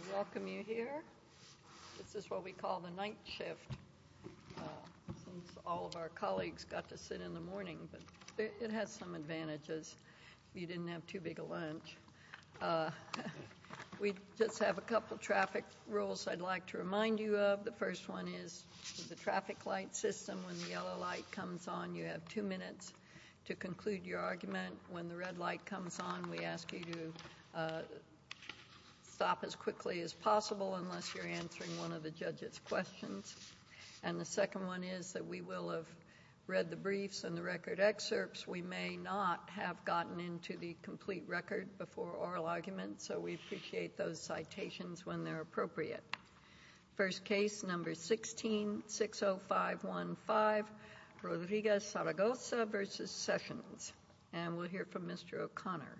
I welcome you here. This is what we call the night shift, since all of our colleagues got to sit in the morning, but it has some advantages if you didn't have too big a lunch. We just have a couple traffic rules I'd like to remind you of. The first one is the traffic light system. When the yellow light comes on, you have two minutes to conclude your argument. When the red light comes on, we ask you to stop as quickly as possible unless you're answering one of the judge's questions. And the second one is that we will have read the briefs and the record excerpts. We may not have gotten into the complete record before oral arguments, so we appreciate those citations when they're appropriate. First case, number 16-60515, Rodriguez-Saragosa v. Sessions. And we'll hear from Mr. O'Connor.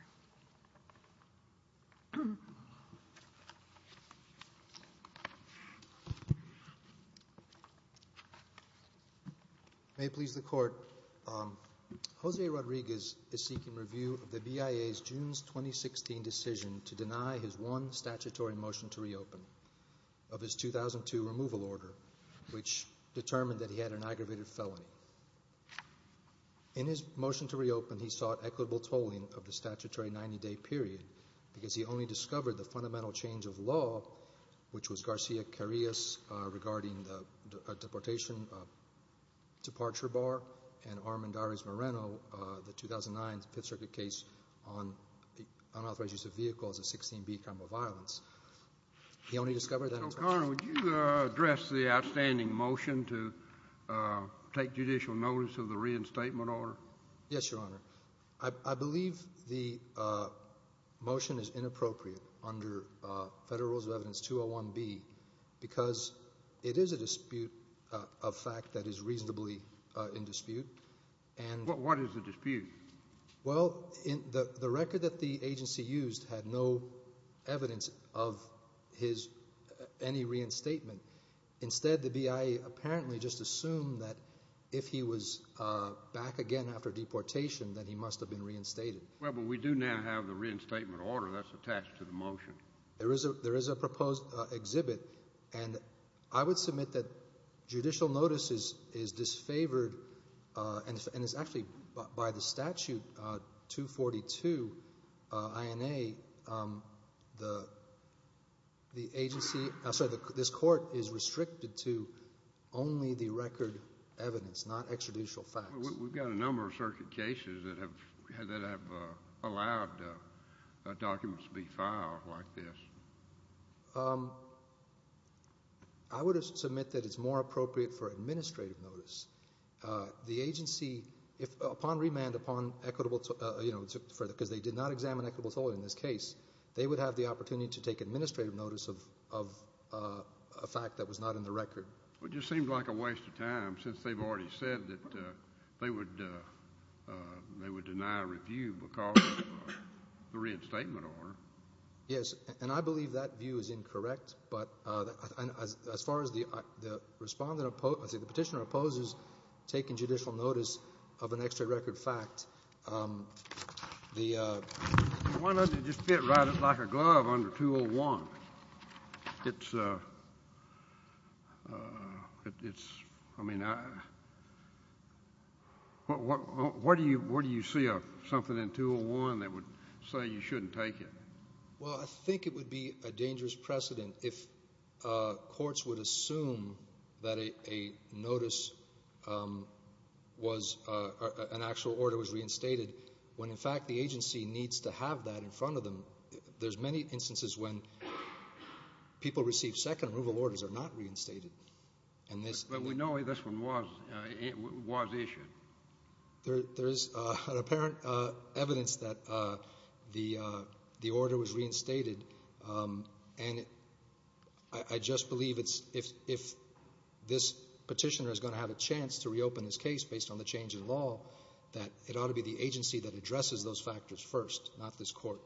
May it please the Court, Jose Rodriguez is seeking review of the BIA's June 2016 decision to deny his one statutory motion to reopen of his 2002 removal order, which determined that he had an aggravated felony. In his motion to reopen, he sought equitable tolling of the statutory 90-day period because he only discovered the fundamental change of law, which was Garcia-Carrillo's regarding the deportation departure bar and Armendariz-Moreno, the 2009 Fifth Circuit case on unauthorized use of vehicles of 16B crime of violence. Mr. O'Connor, would you address the outstanding motion to take judicial notice of the reinstatement order? Yes, Your Honor. I believe the motion is inappropriate under Federal Rules of Evidence 201B because it is a dispute of fact that is reasonably in dispute. What is the dispute? Well, the record that the agency used had no evidence of any reinstatement. Instead, the BIA apparently just assumed that if he was back again after deportation that he must have been reinstated. Well, but we do now have the reinstatement order that's attached to the motion. There is a proposed exhibit, and I would submit that judicial notice is disfavored, and it's actually by the statute 242 INA, the agency, I'm sorry, this court is restricted to only the record evidence, not extraditional facts. We've got a number of circuit cases that have allowed documents to be filed like this. I would submit that it's more appropriate for administrative notice. The agency, upon remand, upon equitable, you know, because they did not examine equitable authority in this case, they would have the opportunity to take administrative notice of a fact that was not in the record. Well, it just seemed like a waste of time since they've already said that they would deny review because of the reinstatement order. Yes, and I believe that view is incorrect, but as far as the Respondent opposes, the Petitioner opposes taking judicial notice of an extra record fact. Why doesn't it just fit right like a glove under 201? It's, I mean, where do you see something in 201 that would say you shouldn't take it? Well, I think it would be a dangerous precedent if courts would assume that a notice was, an actual order was reinstated when, in fact, the agency needs to have that in front of them. There's many instances when people receive second removal orders are not reinstated. But we know this one was issued. There is an apparent evidence that the order was reinstated, and I just believe it's, if this Petitioner is going to have a chance to reopen this case based on the change in law, that it ought to be the agency that addresses those factors first, not this court.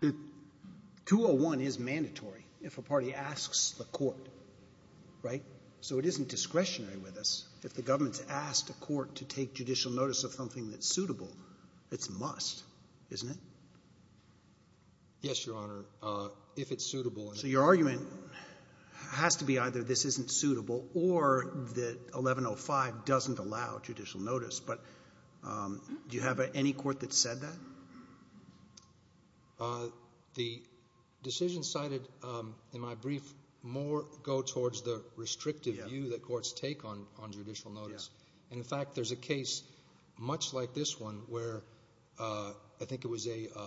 Okay. 201 is mandatory if a party asks the court, right? So it isn't discretionary with us. If the government's asked a court to take judicial notice of something that's suitable, it's a must, isn't it? Yes, Your Honor, if it's suitable. So your argument has to be either this isn't suitable or that 1105 doesn't allow judicial notice. But do you have any court that said that? The decisions cited in my brief more go towards the restrictive view that courts take on judicial notice. And, in fact, there's a case much like this one where I think it was a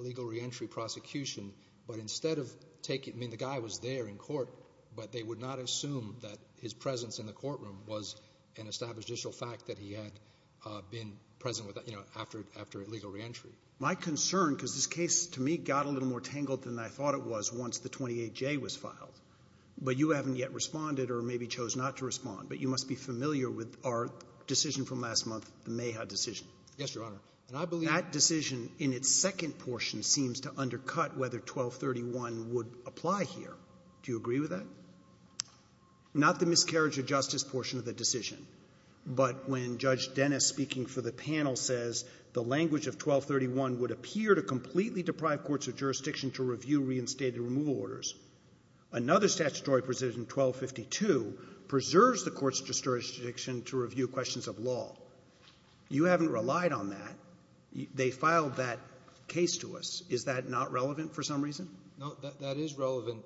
legal reentry prosecution. But instead of taking it, I mean, the guy was there in court, but they would not assume that his presence in the courtroom was an established judicial fact that he had been present with, you know, after legal reentry. My concern, because this case, to me, got a little more tangled than I thought it was once the 28J was filed. But you haven't yet responded or maybe chose not to respond. But you must be familiar with our decision from last month, the Mayhaw decision. Yes, Your Honor. And I believe that decision in its second portion seems to undercut whether 1231 would apply here. Do you agree with that? Not the miscarriage of justice portion of the decision. But when Judge Dennis, speaking for the panel, says the language of 1231 would appear to completely deprive courts of jurisdiction to review reinstated removal orders, another statutory precision, 1252, preserves the court's jurisdiction to review questions of law. You haven't relied on that. They filed that case to us. Is that not relevant for some reason? No, that is relevant.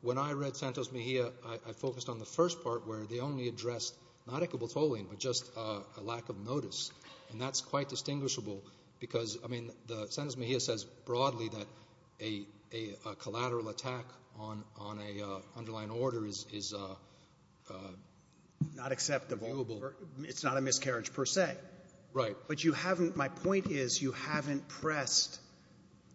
When I read Santos-Mejia, I focused on the first part where they only addressed not equitable tolling but just a lack of notice. And that's quite distinguishable because, I mean, Santos-Mejia says broadly that a collateral attack on an underlying order is not acceptable. It's not a miscarriage per se. Right. But you haven't – my point is you haven't pressed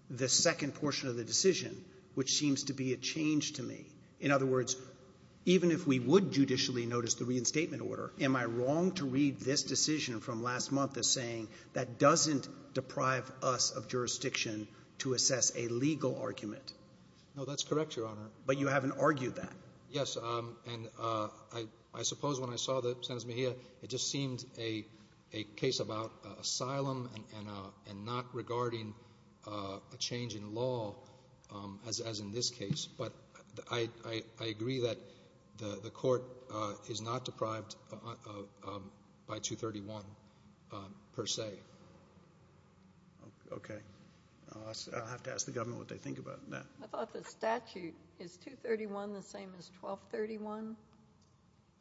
the second portion of the decision, which seems to be a change to me. In other words, even if we would judicially notice the reinstatement order, am I wrong to read this decision from last month as saying that doesn't deprive us of jurisdiction to assess a legal argument? No, that's correct, Your Honor. But you haven't argued that. Yes, and I suppose when I saw the Santos-Mejia, it just seemed a case about asylum and not regarding a change in law as in this case. But I agree that the court is not deprived by 231 per se. Okay. I'll have to ask the government what they think about that. I thought the statute is 231 the same as 1231.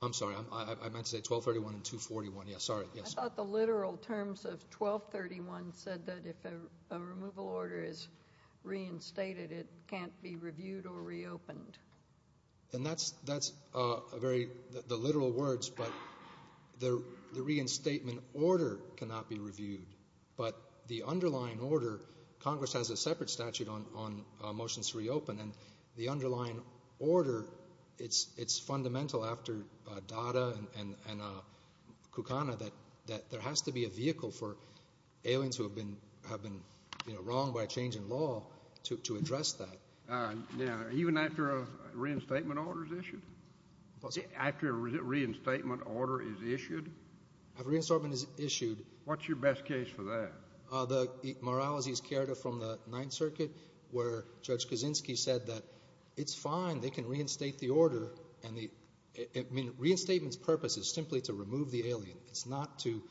I'm sorry. I meant to say 1231 and 241. Yes, sorry. I thought the literal terms of 1231 said that if a removal order is reinstated, it can't be reviewed or reopened. And that's a very – the literal words, but the reinstatement order cannot be reviewed. But the underlying order, Congress has a separate statute on motions to reopen, and the underlying order, it's fundamental after Dada and Kukana that there has to be a vehicle for aliens who have been wronged by a change in law to address that. Now, even after a reinstatement order is issued? After a reinstatement order is issued? After a reinstatement is issued. What's your best case for that? The Morales v. Chiarita from the Ninth Circuit where Judge Kaczynski said that it's fine. They can reinstate the order, and the – I mean, reinstatement's purpose is simply to remove the alien. It's not to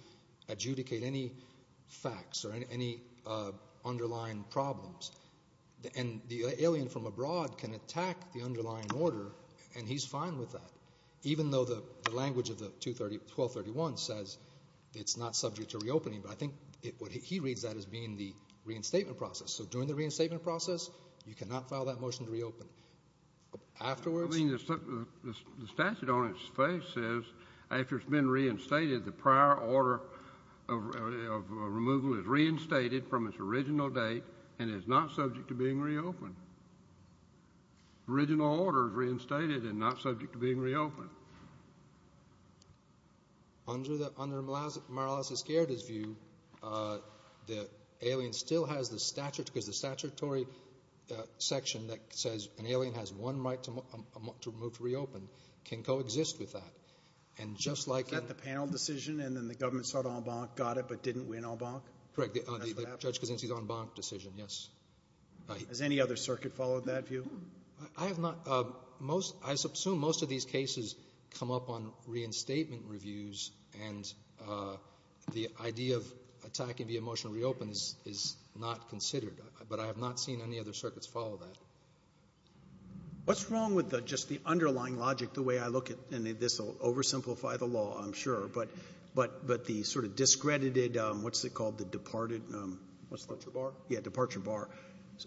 adjudicate any facts or any underlying problems. And the alien from abroad can attack the underlying order, and he's fine with that, even though the language of the 1231 says it's not subject to reopening. But I think what he reads that as being the reinstatement process. So during the reinstatement process, you cannot file that motion to reopen. Afterwards? I mean, the statute on its face says after it's been reinstated, the prior order of removal is reinstated from its original date and is not subject to being reopened. Original order is reinstated and not subject to being reopened. Under Morales v. Chiarita's view, the alien still has the statute because the statutory section that says an alien has one right to move to reopen can coexist with that. And just like in— Is that the panel decision and then the government said en banc, got it, but didn't win en banc? Correct. That's what happened? Judge Kaczynski's en banc decision, yes. Has any other circuit followed that view? I have not. Most—I assume most of these cases come up on reinstatement reviews, and the idea of attacking the motion to reopen is not considered. But I have not seen any other circuits follow that. What's wrong with just the underlying logic, the way I look at—and this will oversimplify the law, I'm sure, but the sort of discredited—what's it called? The departed— Departure bar? Yeah, departure bar.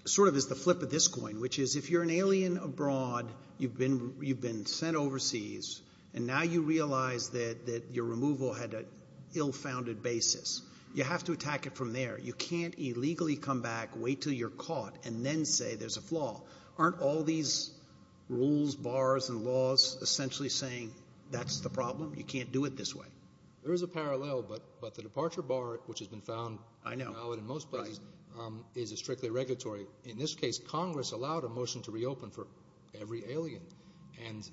Sort of is the flip of this coin, which is if you're an alien abroad, you've been sent overseas, and now you realize that your removal had an ill-founded basis, you have to attack it from there. You can't illegally come back, wait until you're caught, and then say there's a flaw. Aren't all these rules, bars, and laws essentially saying that's the problem? You can't do it this way. There is a parallel, but the departure bar, which has been found— I know. —valid in most places is a strictly regulatory. In this case, Congress allowed a motion to reopen for every alien, and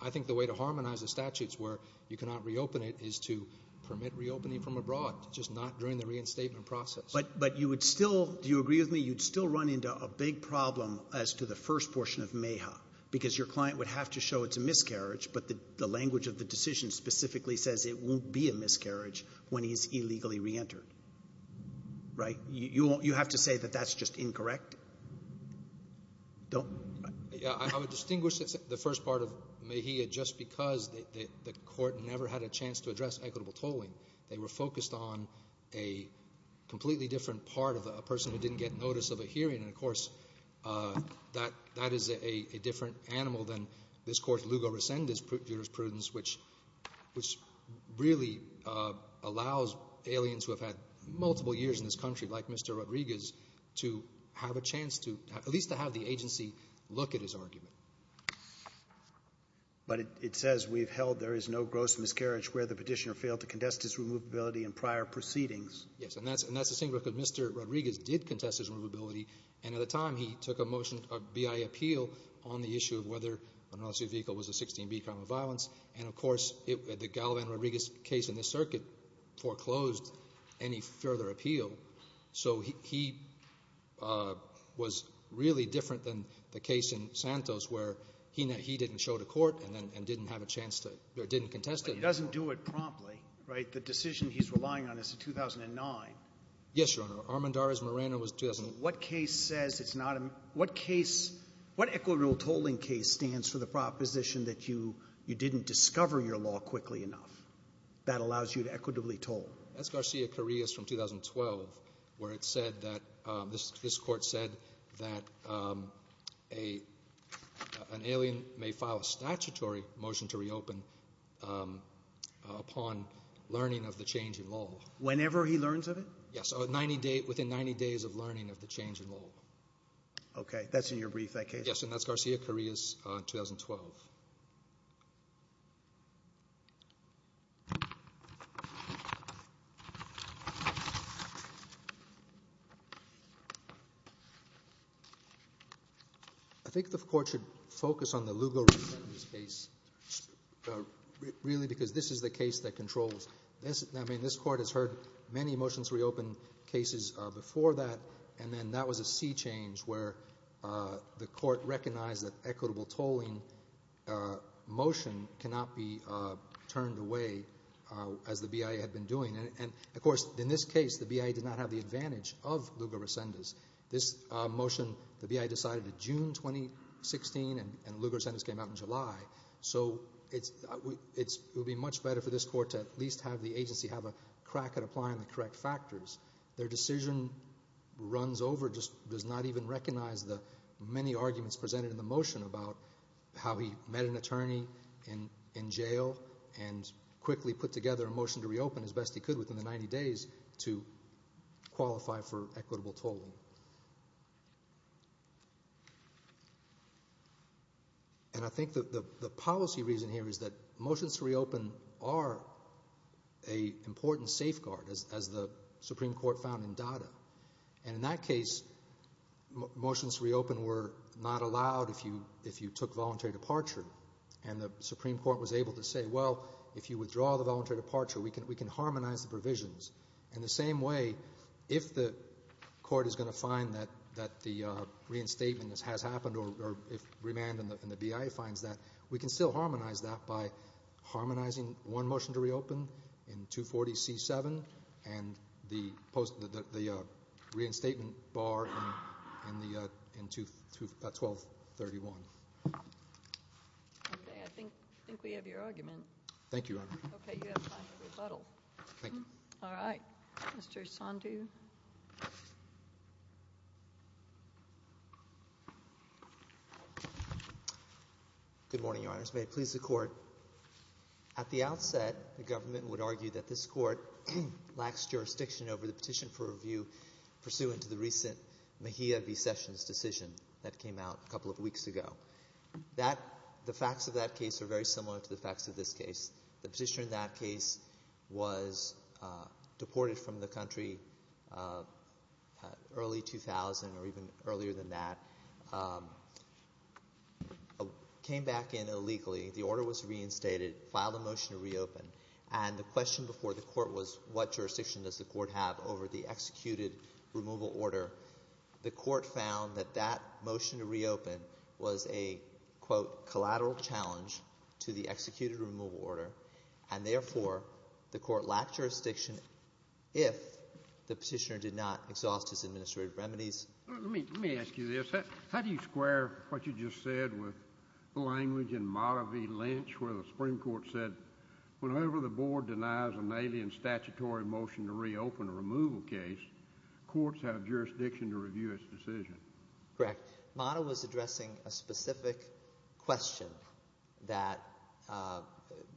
I think the way to harmonize the statutes where you cannot reopen it is to permit reopening from abroad, just not during the reinstatement process. But you would still—do you agree with me? You'd still run into a big problem as to the first portion of MEHA because your client would have to show it's a miscarriage, but the language of the decision specifically says it won't be a miscarriage when he's illegally reentered, right? You have to say that that's just incorrect? Don't— Yeah, I would distinguish the first part of MEHA just because the court never had a chance to address equitable tolling. They were focused on a completely different part of a person who didn't get notice of a hearing, and, of course, that is a different animal than this court's lugo rescindus jurisprudence, which really allows aliens who have had multiple years in this country, like Mr. Rodriguez, to have a chance to—at least to have the agency look at his argument. But it says we've held there is no gross miscarriage where the petitioner failed to contest his removability in prior proceedings. Yes, and that's the same because Mr. Rodriguez did contest his removability, and at the time he took a motion, a BIA appeal, on the issue of whether an unauthorized vehicle was a 16B crime of violence, and, of course, the Galavan-Rodriguez case in this circuit foreclosed any further appeal. So he was really different than the case in Santos where he didn't show to court and didn't have a chance to—or didn't contest it. But he doesn't do it promptly, right? The decision he's relying on is a 2009. Yes, Your Honor. Armendariz-Morano was— What case says it's not a—what case—what equitable tolling case stands for the proposition that you didn't discover your law quickly enough that allows you to equitably toll? That's Garcia-Carrillo's from 2012 where it said that—his court said that an alien may file a statutory motion to reopen upon learning of the change in law. Whenever he learns of it? Yes, within 90 days of learning of the change in law. Okay. That's in your brief, that case? Yes, and that's Garcia-Carrillo's 2012. I think the court should focus on the Lugo-Rodriguez case really because this is the case that controls—I mean, this court has heard many motions to reopen cases before that, and then that was a sea change where the court recognized that equitable tolling motion cannot be turned away as the BIA had been doing. And, of course, in this case, the BIA did not have the advantage of Lugo-Rosendez. This motion, the BIA decided in June 2016, and Lugo-Rosendez came out in July. So it would be much better for this court to at least have the agency have a crack at applying the correct factors. Their decision runs over, just does not even recognize the many arguments presented in the motion about how he met an attorney in jail and quickly put together a motion to reopen as best he could within the 90 days to qualify for equitable tolling. And I think the policy reason here is that motions to reopen are an important safeguard, as the Supreme Court found in Dada. And in that case, motions to reopen were not allowed if you took voluntary departure. And the Supreme Court was able to say, well, if you withdraw the voluntary departure, we can harmonize the provisions. In the same way, if the court is going to find that the reinstatement has happened, or if Remand and the BIA finds that, we can still harmonize that by harmonizing one motion to reopen in 240C7 and the reinstatement bar in 1231. Okay, I think we have your argument. Thank you, Your Honor. Okay, you have time for rebuttal. Thank you. All right. Mr. Sandhu. Good morning, Your Honors. May it please the Court. At the outset, the government would argue that this Court lacks jurisdiction over the petition for review pursuant to the recent Mejia v. Sessions decision that came out a couple of weeks ago. The facts of that case are very similar to the facts of this case. The petitioner in that case was deported from the country early 2000 or even earlier than that, came back in illegally, the order was reinstated, filed a motion to reopen, and the question before the Court was, what jurisdiction does the Court have over the executed removal order? The Court found that that motion to reopen was a, quote, collateral challenge to the executed removal order, and, therefore, the Court lacked jurisdiction if the petitioner did not exhaust his administrative remedies. Let me ask you this. How do you square what you just said with the language in Motive v. Lynch where the Supreme Court said, whenever the Board denies an alien statutory motion to reopen a removal case, courts have jurisdiction to review its decision? Correct. Motive was addressing a specific question that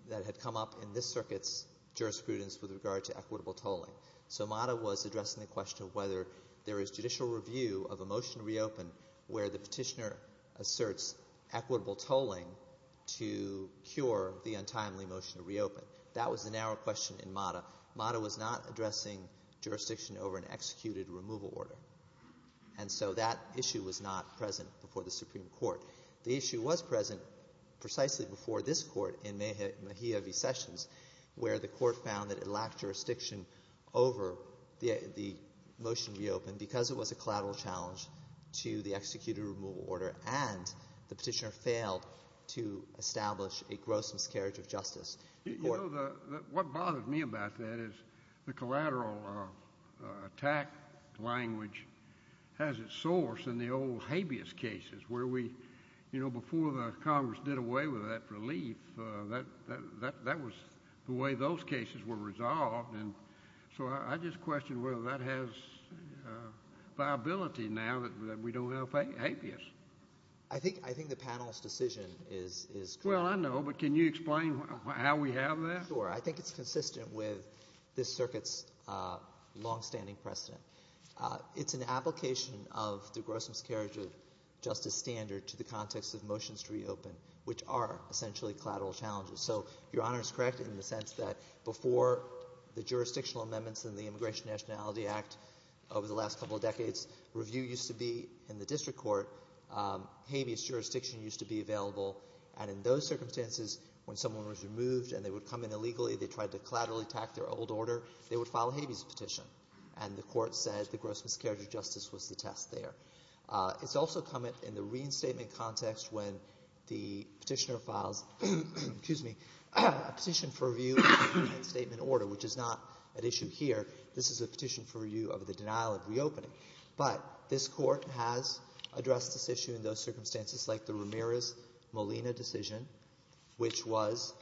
had come up in this circuit's jurisprudence with regard to equitable tolling. So Motive was addressing the question of whether there is judicial review of a motion to reopen where the petitioner asserts equitable tolling to cure the untimely motion to reopen. That was the narrow question in Motive. Motive was not addressing jurisdiction over an executed removal order, and so that issue was not present before the Supreme Court. The issue was present precisely before this Court in Mejia v. Sessions, where the Court found that it lacked jurisdiction over the motion to reopen because it was a collateral challenge to the executed removal order and the petitioner failed to establish a gross miscarriage of justice. What bothers me about that is the collateral attack language has its source in the old habeas cases, where before Congress did away with that relief, that was the way those cases were resolved. So I just question whether that has viability now that we don't have habeas. I think the panel's decision is correct. Well, I know, but can you explain how we have that? Sure. I think it's consistent with this circuit's longstanding precedent. It's an application of the gross miscarriage of justice standard to the context of motions to reopen, which are essentially collateral challenges. So Your Honor is correct in the sense that before the jurisdictional amendments in the Immigration Nationality Act over the last couple of decades, review used to be in the district court, habeas jurisdiction used to be available, and in those circumstances when someone was removed and they would come in illegally, they tried to collateral attack their old order, they would file a habeas petition, and the court said the gross miscarriage of justice was the test there. It's also come in the reinstatement context when the petitioner files a petition for review of the reinstatement order, which is not at issue here. This is a petition for review of the denial of reopening. But this court has addressed this issue in those circumstances like the Ramirez-Molina decision, which was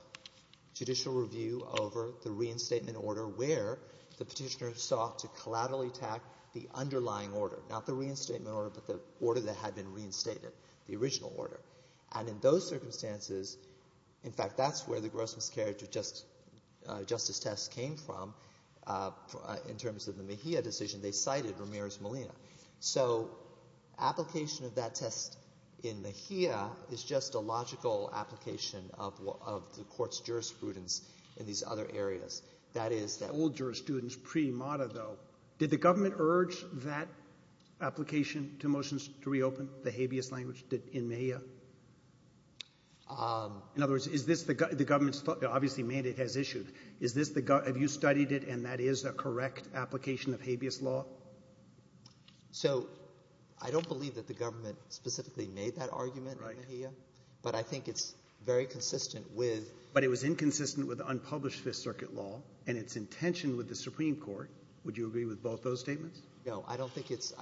judicial review over the reinstatement order where the petitioner sought to collateral attack the underlying order, not the reinstatement order, but the order that had been reinstated, the original order. And in those circumstances, in fact, that's where the gross miscarriage of justice test came from. In terms of the Mejia decision, they cited Ramirez-Molina. So application of that test in Mejia is just a logical application of the court's jurisprudence in these other areas. That is the old jurisprudence pre-MATA, though. Did the government urge that application to motions to reopen the habeas language in Mejia? In other words, is this the government's thought? Obviously, Mejia has issued. Is this the government? Have you studied it, and that is a correct application of habeas law? So I don't believe that the government specifically made that argument in Mejia. Right. But I think it's very consistent with — But it was inconsistent with unpublished Fifth Circuit law and its intention with the Supreme Court. Would you agree with both those statements? No. I don't think it's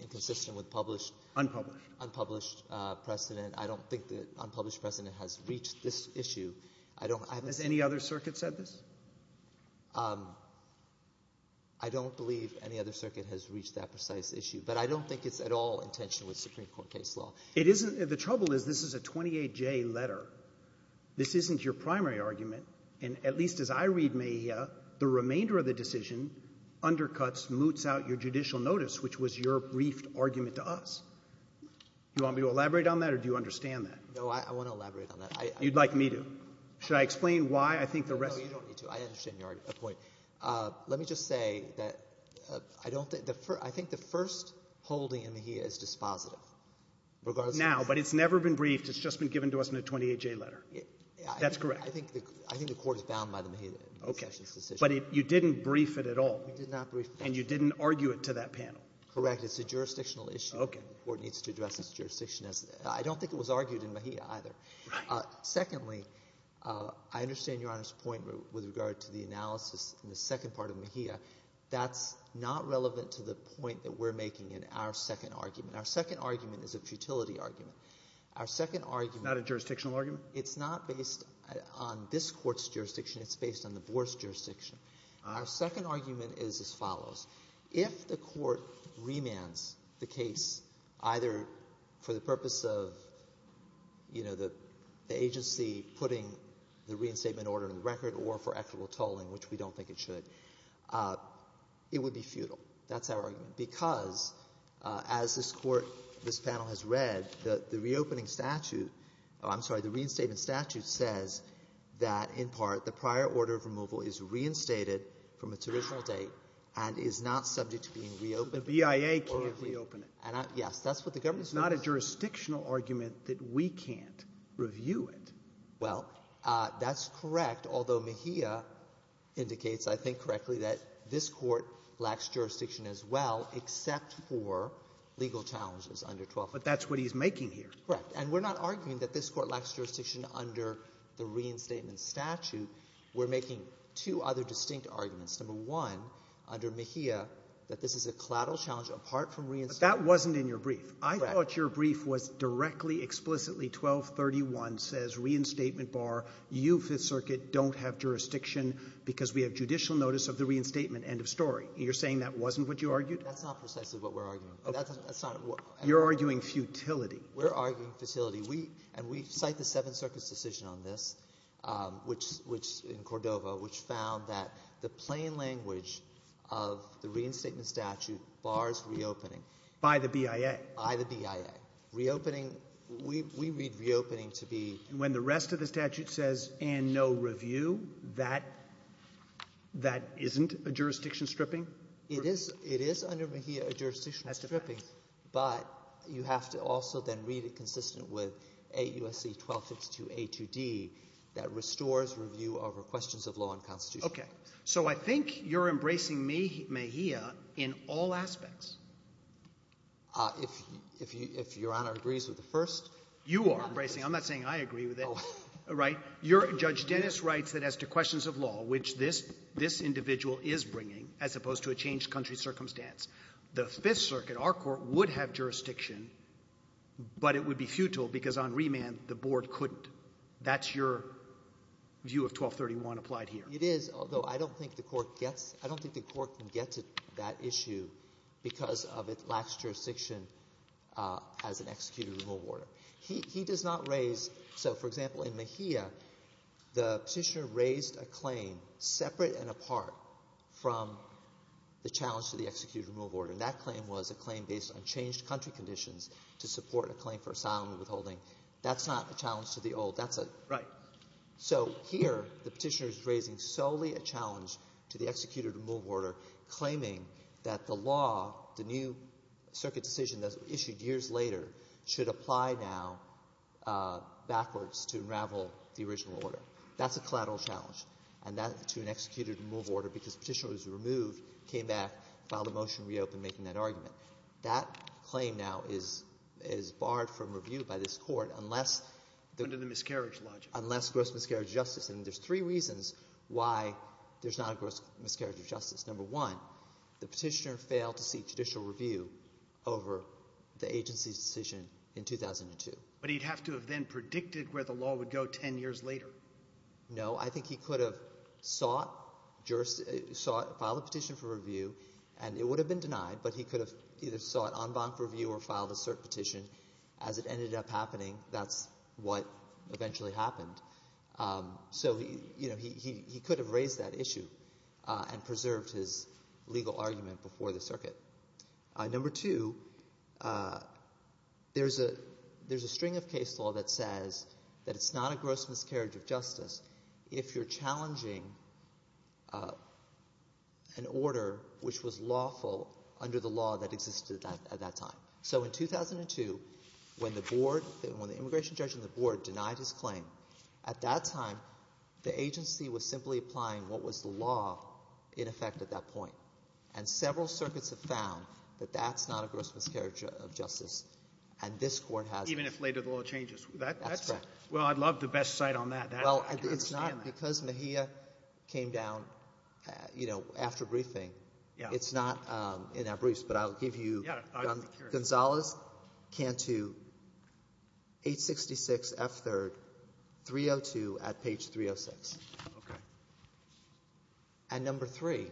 inconsistent with published — Unpublished. Unpublished precedent. I don't think that unpublished precedent has reached this issue. I don't — Has any other circuit said this? I don't believe any other circuit has reached that precise issue. But I don't think it's at all intentional with Supreme Court case law. It isn't. The trouble is this is a 28-J letter. This isn't your primary argument. And at least as I read Mejia, the remainder of the decision undercuts, moots out your judicial notice, which was your briefed argument to us. Do you want me to elaborate on that, or do you understand that? No, I want to elaborate on that. You'd like me to. Should I explain why I think the rest — No, you don't need to. I understand your point. Let me just say that I don't think — I think the first holding in Mejia is dispositive. Now, but it's never been briefed. It's just been given to us in a 28-J letter. That's correct. I think the court is bound by the Mejia decision. Okay. But you didn't brief it at all. We did not brief it. And you didn't argue it to that panel. Correct. It's a jurisdictional issue. Okay. The court needs to address its jurisdiction as — I don't think it was argued in Mejia either. Right. Secondly, I understand Your Honor's point with regard to the analysis in the second part of Mejia. That's not relevant to the point that we're making in our second argument. Our second argument is a futility argument. Our second argument — It's not a jurisdictional argument? It's not based on this Court's jurisdiction. It's based on the board's jurisdiction. Our second argument is as follows. If the Court remands the case either for the purpose of, you know, the agency putting the reinstatement order in the record or for equitable tolling, which we don't think it should, it would be futile. That's our argument. Because as this Court, this panel has read, the reopening statute — I'm sorry, the reinstatement statute says that, in part, the prior order of removal is reinstated from its original date and is not subject to being reopened. So the BIA can't reopen it. Yes. That's what the government is doing. It's not a jurisdictional argument that we can't review it. Well, that's correct, although Mejia indicates, I think correctly, that this Court lacks jurisdiction as well except for legal challenges under 12. But that's what he's making here. Correct. And we're not arguing that this Court lacks jurisdiction under the reinstatement statute. We're making two other distinct arguments. Number one, under Mejia, that this is a collateral challenge apart from reinstatement — But that wasn't in your brief. Correct. I thought your brief was directly, explicitly 1231 says, reinstatement bar, you, Fifth Circuit, don't have jurisdiction because we have judicial notice of the reinstatement, end of story. You're saying that wasn't what you argued? That's not precisely what we're arguing. That's not what — You're arguing futility. We're arguing futility. We — and we cite the Seventh Circuit's decision on this, which — in Cordova, which found that the plain language of the reinstatement statute bars reopening. By the BIA. By the BIA. Reopening — we read reopening to be — And when the rest of the statute says, and no review, that isn't a jurisdiction stripping? It is. It is under Mejia a jurisdiction stripping. That's the fact. But you have to also then read it consistent with AUSC 1252A2D that restores review over questions of law and constitution. Okay. So I think you're embracing Mejia in all aspects. If Your Honor agrees with the first. You are embracing. I'm not saying I agree with it. Oh. Right? You're — Judge Dennis writes that as to questions of law, which this individual is bringing, as opposed to a changed country circumstance, the Fifth Circuit, our court, would have jurisdiction, but it would be futile because on remand the board couldn't. That's your view of 1231 applied here. It is, although I don't think the court gets — I don't think the court can get to that issue because of its lax jurisdiction as an executed removal order. He does not raise — so, for example, in Mejia, the Petitioner raised a claim separate and apart from the challenge to the executed removal order. And that claim was a claim based on changed country conditions to support a claim for asylum and withholding. That's not a challenge to the old. That's a — Right. So here the Petitioner is raising solely a challenge to the executed removal order claiming that the law, the new circuit decision that was issued years later, should apply now backwards to unravel the original order. That's a collateral challenge. And that's to an executed removal order because the Petitioner was removed, came back, filed a motion, reopened, making that argument. That claim now is barred from review by this Court unless the — Under the miscarriage logic. Unless gross miscarriage of justice. And there's three reasons why there's not a gross miscarriage of justice. Number one, the Petitioner failed to seek judicial review over the agency's decision in 2002. But he'd have to have then predicted where the law would go 10 years later. No. I think he could have sought, filed a petition for review, and it would have been denied, but he could have either sought en banc review or filed a cert petition. As it ended up happening, that's what eventually happened. So he could have raised that issue and preserved his legal argument before the circuit. Number two, there's a string of case law that says that it's not a gross miscarriage of justice if you're challenging an order which was lawful under the law that existed at that time. So in 2002, when the board — when the immigration judge on the board denied his claim, at that time, the agency was simply applying what was the law in effect at that point. And several circuits have found that that's not a gross miscarriage of justice, and this Court has — Even if later the law changes. That's correct. Well, I'd love the best site on that. I can understand that. Well, it's not because Mejia came down, you know, after briefing. Yeah. It's not in our briefs, but I'll give you — Yeah. Gonzales, Cantu, 866 F. 3rd, 302 at page 306. Okay. And number three,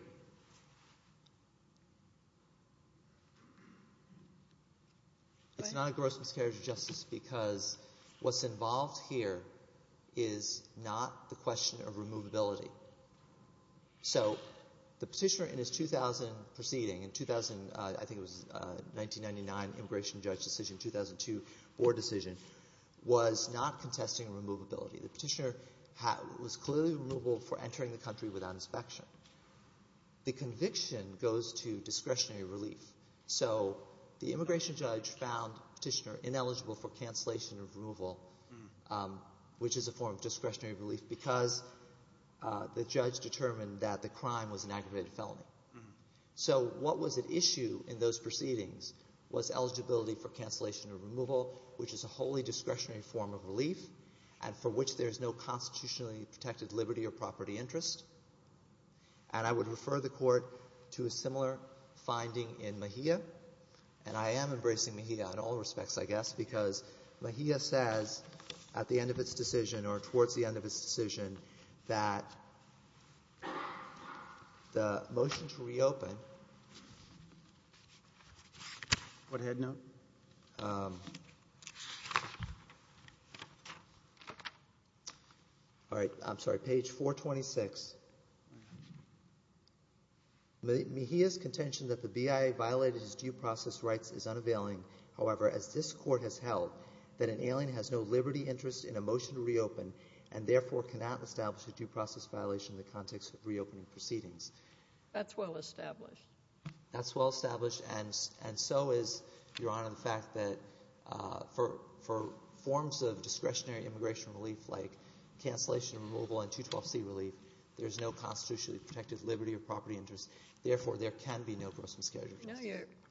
it's not a gross miscarriage of justice because what's involved here is not the question of removability. So the petitioner in his 2000 proceeding — in 2000, I think it was 1999 immigration judge decision, 2002 board decision — was not contesting removability. The petitioner was clearly removable for entering the country without inspection. The conviction goes to discretionary relief. So the immigration judge found petitioner ineligible for cancellation of removal, which is a form of discretionary relief, because the judge determined that the crime was an aggravated felony. So what was at issue in those proceedings was eligibility for cancellation of removal, which is a wholly discretionary form of relief and for which there is no constitutionally protected liberty or property interest. And I would refer the Court to a similar finding in Mejia. And I am embracing Mejia in all respects, I guess, because Mejia says at the end of its decision or towards the end of its decision that the motion to reopen — Go ahead, now. Thank you. All right, I'm sorry. Page 426. Mejia's contention that the BIA violated his due process rights is unavailing. However, as this Court has held, that an alien has no liberty interest in a motion to reopen and therefore cannot establish a due process violation in the context of reopening proceedings. That's well established. That's well established. And so is, Your Honor, the fact that for forms of discretionary immigration relief, like cancellation of removal and 212C relief, there's no constitutionally protected liberty or property interest. Therefore, there can be no gross miscarriage of justice.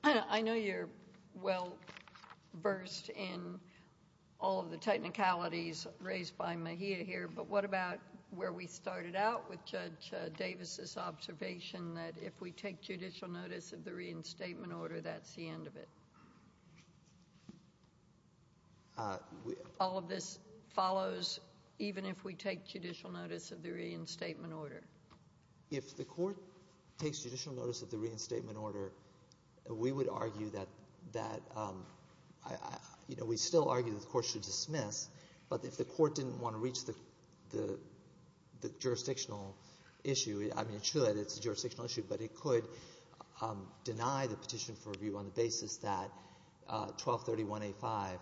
I know you're well versed in all of the technicalities raised by Mejia here, but what about where we started out with Judge Davis' observation that if we take judicial notice of the reinstatement order, that's the end of it? All of this follows even if we take judicial notice of the reinstatement order? If the Court takes judicial notice of the reinstatement order, we would argue that — you know, we still argue that the Court should dismiss. But if the Court didn't want to reach the jurisdictional issue — I mean, it should. It's a jurisdictional issue. But it could deny the petition for review on the basis that 1231A5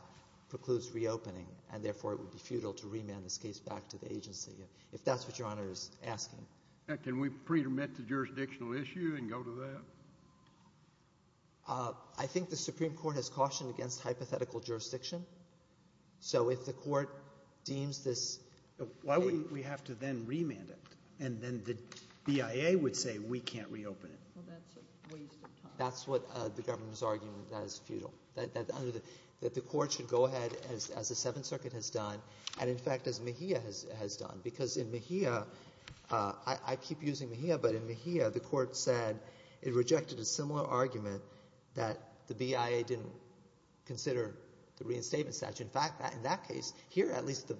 precludes reopening and therefore it would be futile to remand this case back to the agency, if that's what Your Honor is asking. Can we pre-admit the jurisdictional issue and go to that? I think the Supreme Court has cautioned against hypothetical jurisdiction. So if the Court deems this — Why would we have to then remand it? And then the BIA would say we can't reopen it. Well, that's a waste of time. That's what the government is arguing that is futile, that the Court should go ahead as the Seventh Circuit has done and, in fact, as Mejia has done. Because in Mejia — I keep using Mejia, but in Mejia the Court said it rejected a similar argument that the BIA didn't consider the reinstatement statute. In fact, in that case, here at least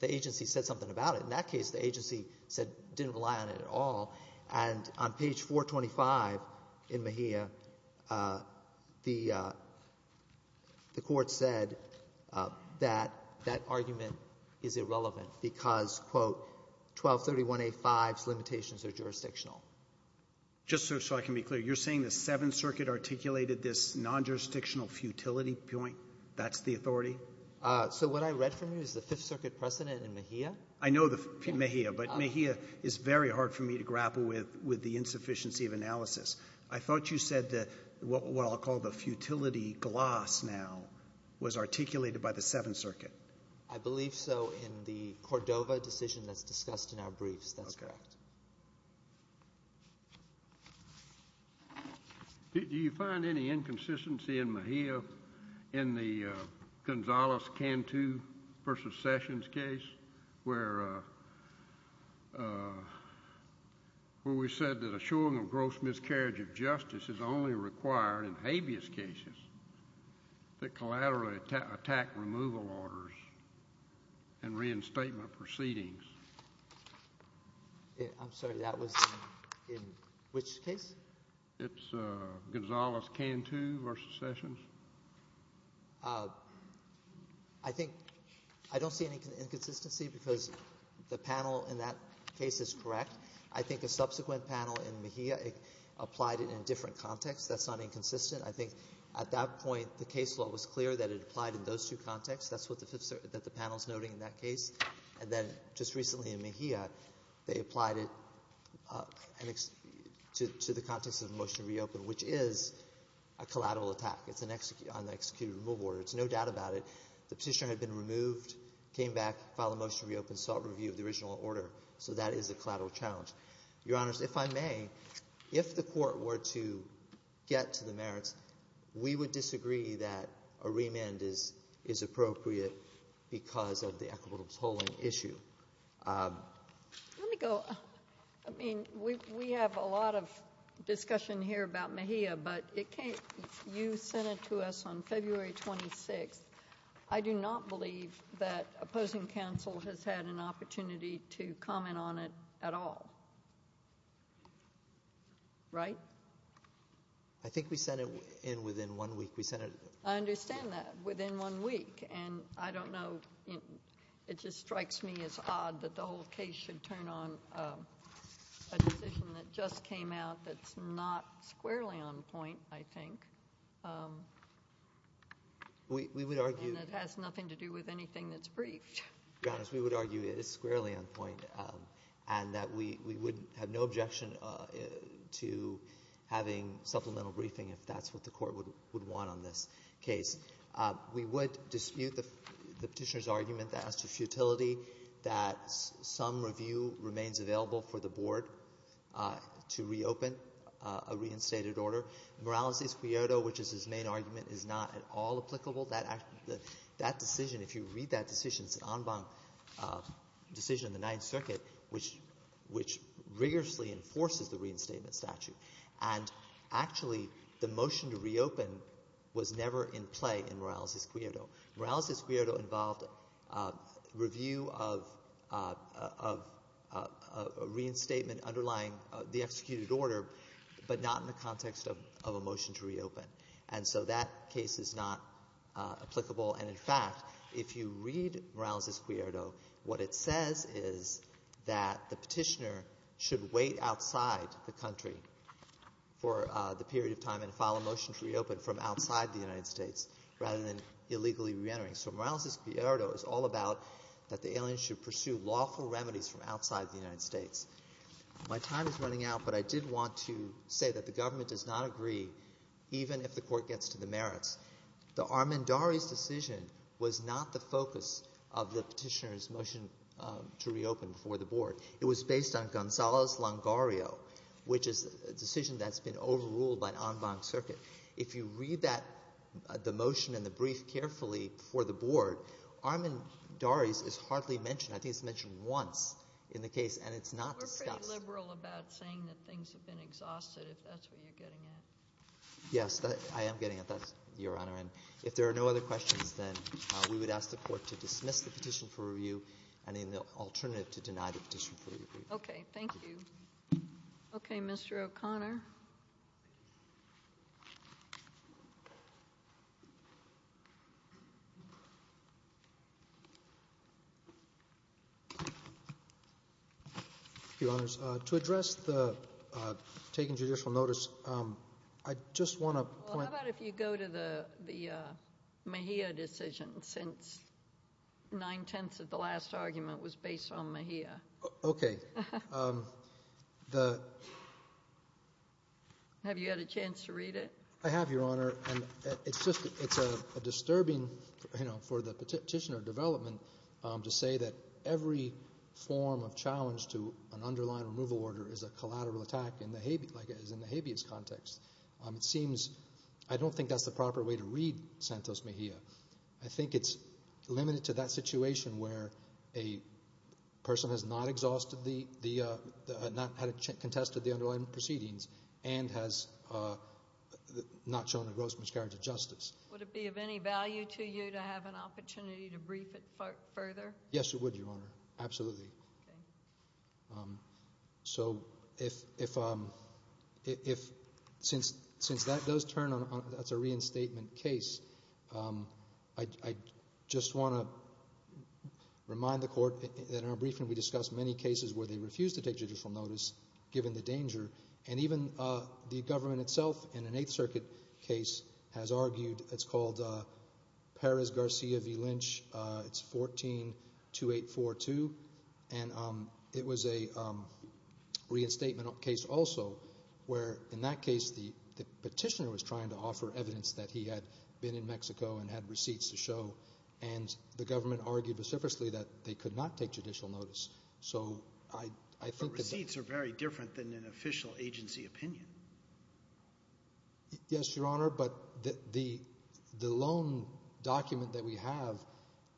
the agency said something about it. In that case, the agency said — didn't rely on it at all. And on page 425 in Mejia, the Court said that that argument is irrelevant because, quote, 1231A5's limitations are jurisdictional. Just so I can be clear, you're saying the Seventh Circuit articulated this non-jurisdictional futility point, that's the authority? So what I read from you is the Fifth Circuit precedent in Mejia. I know Mejia, but Mejia is very hard for me to grapple with, with the insufficiency of analysis. I thought you said that what I'll call the futility gloss now was articulated by the Seventh Circuit. I believe so in the Cordova decision that's discussed in our briefs. That's correct. Do you find any inconsistency in Mejia in the Gonzales-Cantu v. Sessions case where we said that a showing of gross miscarriage of justice is only required in habeas cases that collaterally attack removal orders and reinstatement proceedings? I'm sorry, that was in which case? It's Gonzales-Cantu v. Sessions. I think I don't see any inconsistency because the panel in that case is correct. I think a subsequent panel in Mejia applied it in a different context. That's not inconsistent. I think at that point the case law was clear that it applied in those two contexts. That's what the panel is noting in that case. And then just recently in Mejia they applied it to the context of a motion to reopen, which is a collateral attack. It's an executed removal order. There's no doubt about it. The petitioner had been removed, came back, filed a motion to reopen, saw a review of the original order. So that is a collateral challenge. Your Honors, if I may, if the Court were to get to the merits, we would disagree that a remand is appropriate because of the equitable polling issue. Let me go. I mean, we have a lot of discussion here about Mejia, but it can't be. You sent it to us on February 26th. I do not believe that opposing counsel has had an opportunity to comment on it at all. Right? I think we sent it in within one week. I understand that, within one week. And I don't know. It just strikes me as odd that the whole case should turn on a decision that just came out that's not squarely on point, I think. And that has nothing to do with anything that's briefed. Your Honors, we would argue it is squarely on point and that we would have no objection to having supplemental briefing if that's what the Court would want on this case. We would dispute the petitioner's argument that as to futility that some review remains available for the Board to reopen a reinstated order. Morales' Quixote, which is his main argument, is not at all applicable. That decision, if you read that decision, it's an en banc decision in the Ninth Circuit, which rigorously enforces the reinstatement statute. And actually, the motion to reopen was never in play in Morales' Quixote. Morales' Quixote involved review of a reinstatement underlying the executed order, but not in the context of a motion to reopen. And so that case is not applicable. And in fact, if you read Morales' Quixote, what it says is that the petitioner should wait outside the country for the period of time and file a motion to reopen from outside the United States rather than illegally reentering. So Morales' Quixote is all about that the aliens should pursue lawful remedies from outside the United States. My time is running out, but I did want to say that the government does not agree, even if the Court gets to the merits. The Armendariz decision was not the focus of the petitioner's motion to reopen before the Board. It was based on Gonzalo's Longario, which is a decision that's been overruled by an en banc circuit. If you read that – the motion and the brief carefully before the Board, Armendariz is hardly mentioned. I think it's mentioned once in the case, and it's not discussed. We're pretty liberal about saying that things have been exhausted, if that's what you're getting at. Yes, I am getting at that, Your Honor. And if there are no other questions, then we would ask the Court to dismiss the petition for review and, in the alternative, to deny the petition for review. Okay, thank you. Okay, Mr. O'Connor. Your Honors, to address the taking judicial notice, I just want to point – Well, how about if you go to the Mejia decision since nine-tenths of the last argument was based on Mejia? Okay. Have you had a chance to read it? I have, Your Honor. It's a disturbing – for the petitioner development to say that every form of challenge to an underlying removal order is a collateral attack in the habeas context. It seems – I don't think that's the proper way to read Santos Mejia. I think it's limited to that situation where a person has not exhausted the – not contested the underlying proceedings and has not shown a gross miscarriage of justice. Would it be of any value to you to have an opportunity to brief it further? Yes, it would, Your Honor, absolutely. Okay. So if – since that does turn on – that's a reinstatement case, I just want to remind the Court that in our briefing we discussed many cases where they refused to take judicial notice given the danger. And even the government itself in an Eighth Circuit case has argued – it's called Perez-Garcia v. Lynch. It's 14-2842. And it was a reinstatement case also where in that case the petitioner was trying to offer evidence that he had been in Mexico and had receipts to show. And the government argued vociferously that they could not take judicial notice. But receipts are very different than an official agency opinion. Yes, Your Honor, but the loan document that we have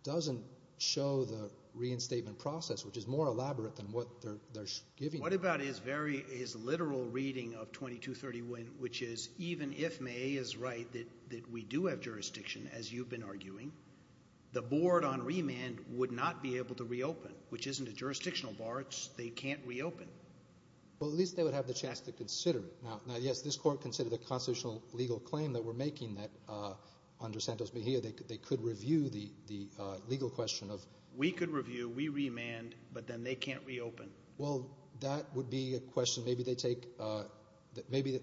doesn't show the reinstatement process, which is more elaborate than what they're giving. What about his very – his literal reading of 2231, which is even if May is right that we do have jurisdiction, as you've been arguing, the board on remand would not be able to reopen, which isn't a jurisdictional bar. They can't reopen. Well, at least they would have the chance to consider it. Now, yes, this Court considered the constitutional legal claim that we're making that under Santos Mejia they could review the legal question of – We could review. We remand. But then they can't reopen. Well, that would be a question maybe they take – maybe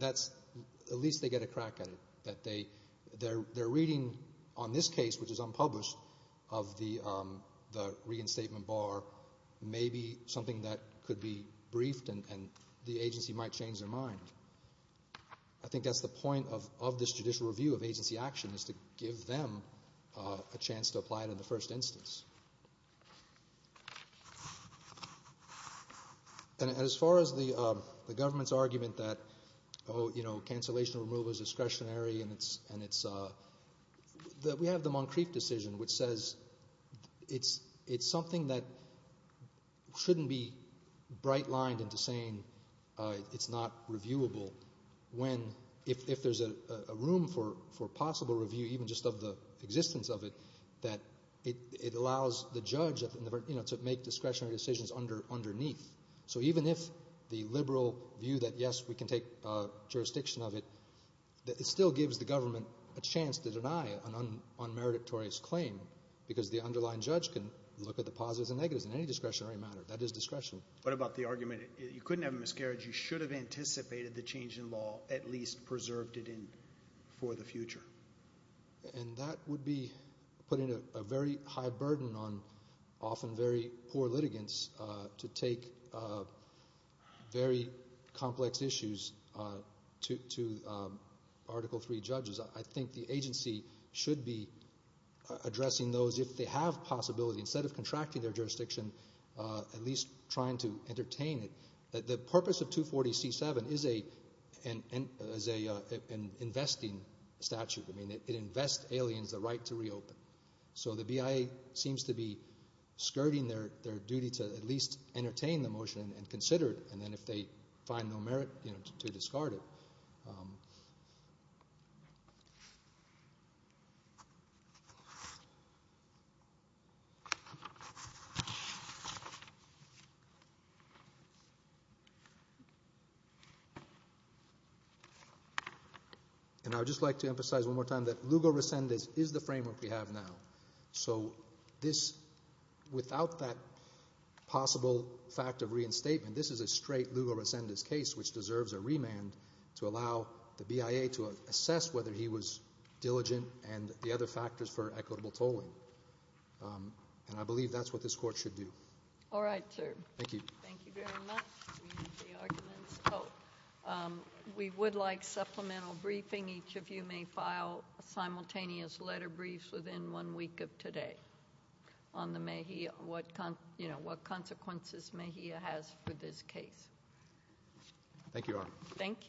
that's – at least they get a crack at it. They're reading on this case, which is unpublished, of the reinstatement bar maybe something that could be briefed and the agency might change their mind. I think that's the point of this judicial review of agency action is to give them a chance to apply it in the first instance. And as far as the government's argument that cancellation of removal is discretionary and it's – we have the Moncrief decision, which says it's something that shouldn't be bright-lined into saying it's not reviewable when – that it allows the judge to make discretionary decisions underneath. So even if the liberal view that, yes, we can take jurisdiction of it, it still gives the government a chance to deny an unmeritorious claim because the underlying judge can look at the positives and negatives in any discretionary matter. That is discretionary. What about the argument you couldn't have a miscarriage? You should have anticipated the change in law, at least preserved it for the future. And that would be putting a very high burden on often very poor litigants to take very complex issues to Article III judges. I think the agency should be addressing those if they have possibility, instead of contracting their jurisdiction, at least trying to entertain it. The purpose of 240C7 is an investing statute. It invests aliens the right to reopen. So the BIA seems to be skirting their duty to at least entertain the motion and consider it, and then if they find no merit to discard it. And I would just like to emphasize one more time that Lugo Resendez is the framework we have now. So this, without that possible fact of reinstatement, this is a straight Lugo Resendez case which deserves a remand to allow the BIA to assess whether he was diligent and the other factors for equitable tolling. And I believe that's what this court should do. All right, sir. Thank you. Thank you very much. We need the arguments. We would like supplemental briefing. Each of you may file a simultaneous letter brief within one week of today on what consequences MHIA has for this case. Thank you, Your Honor. Thank you.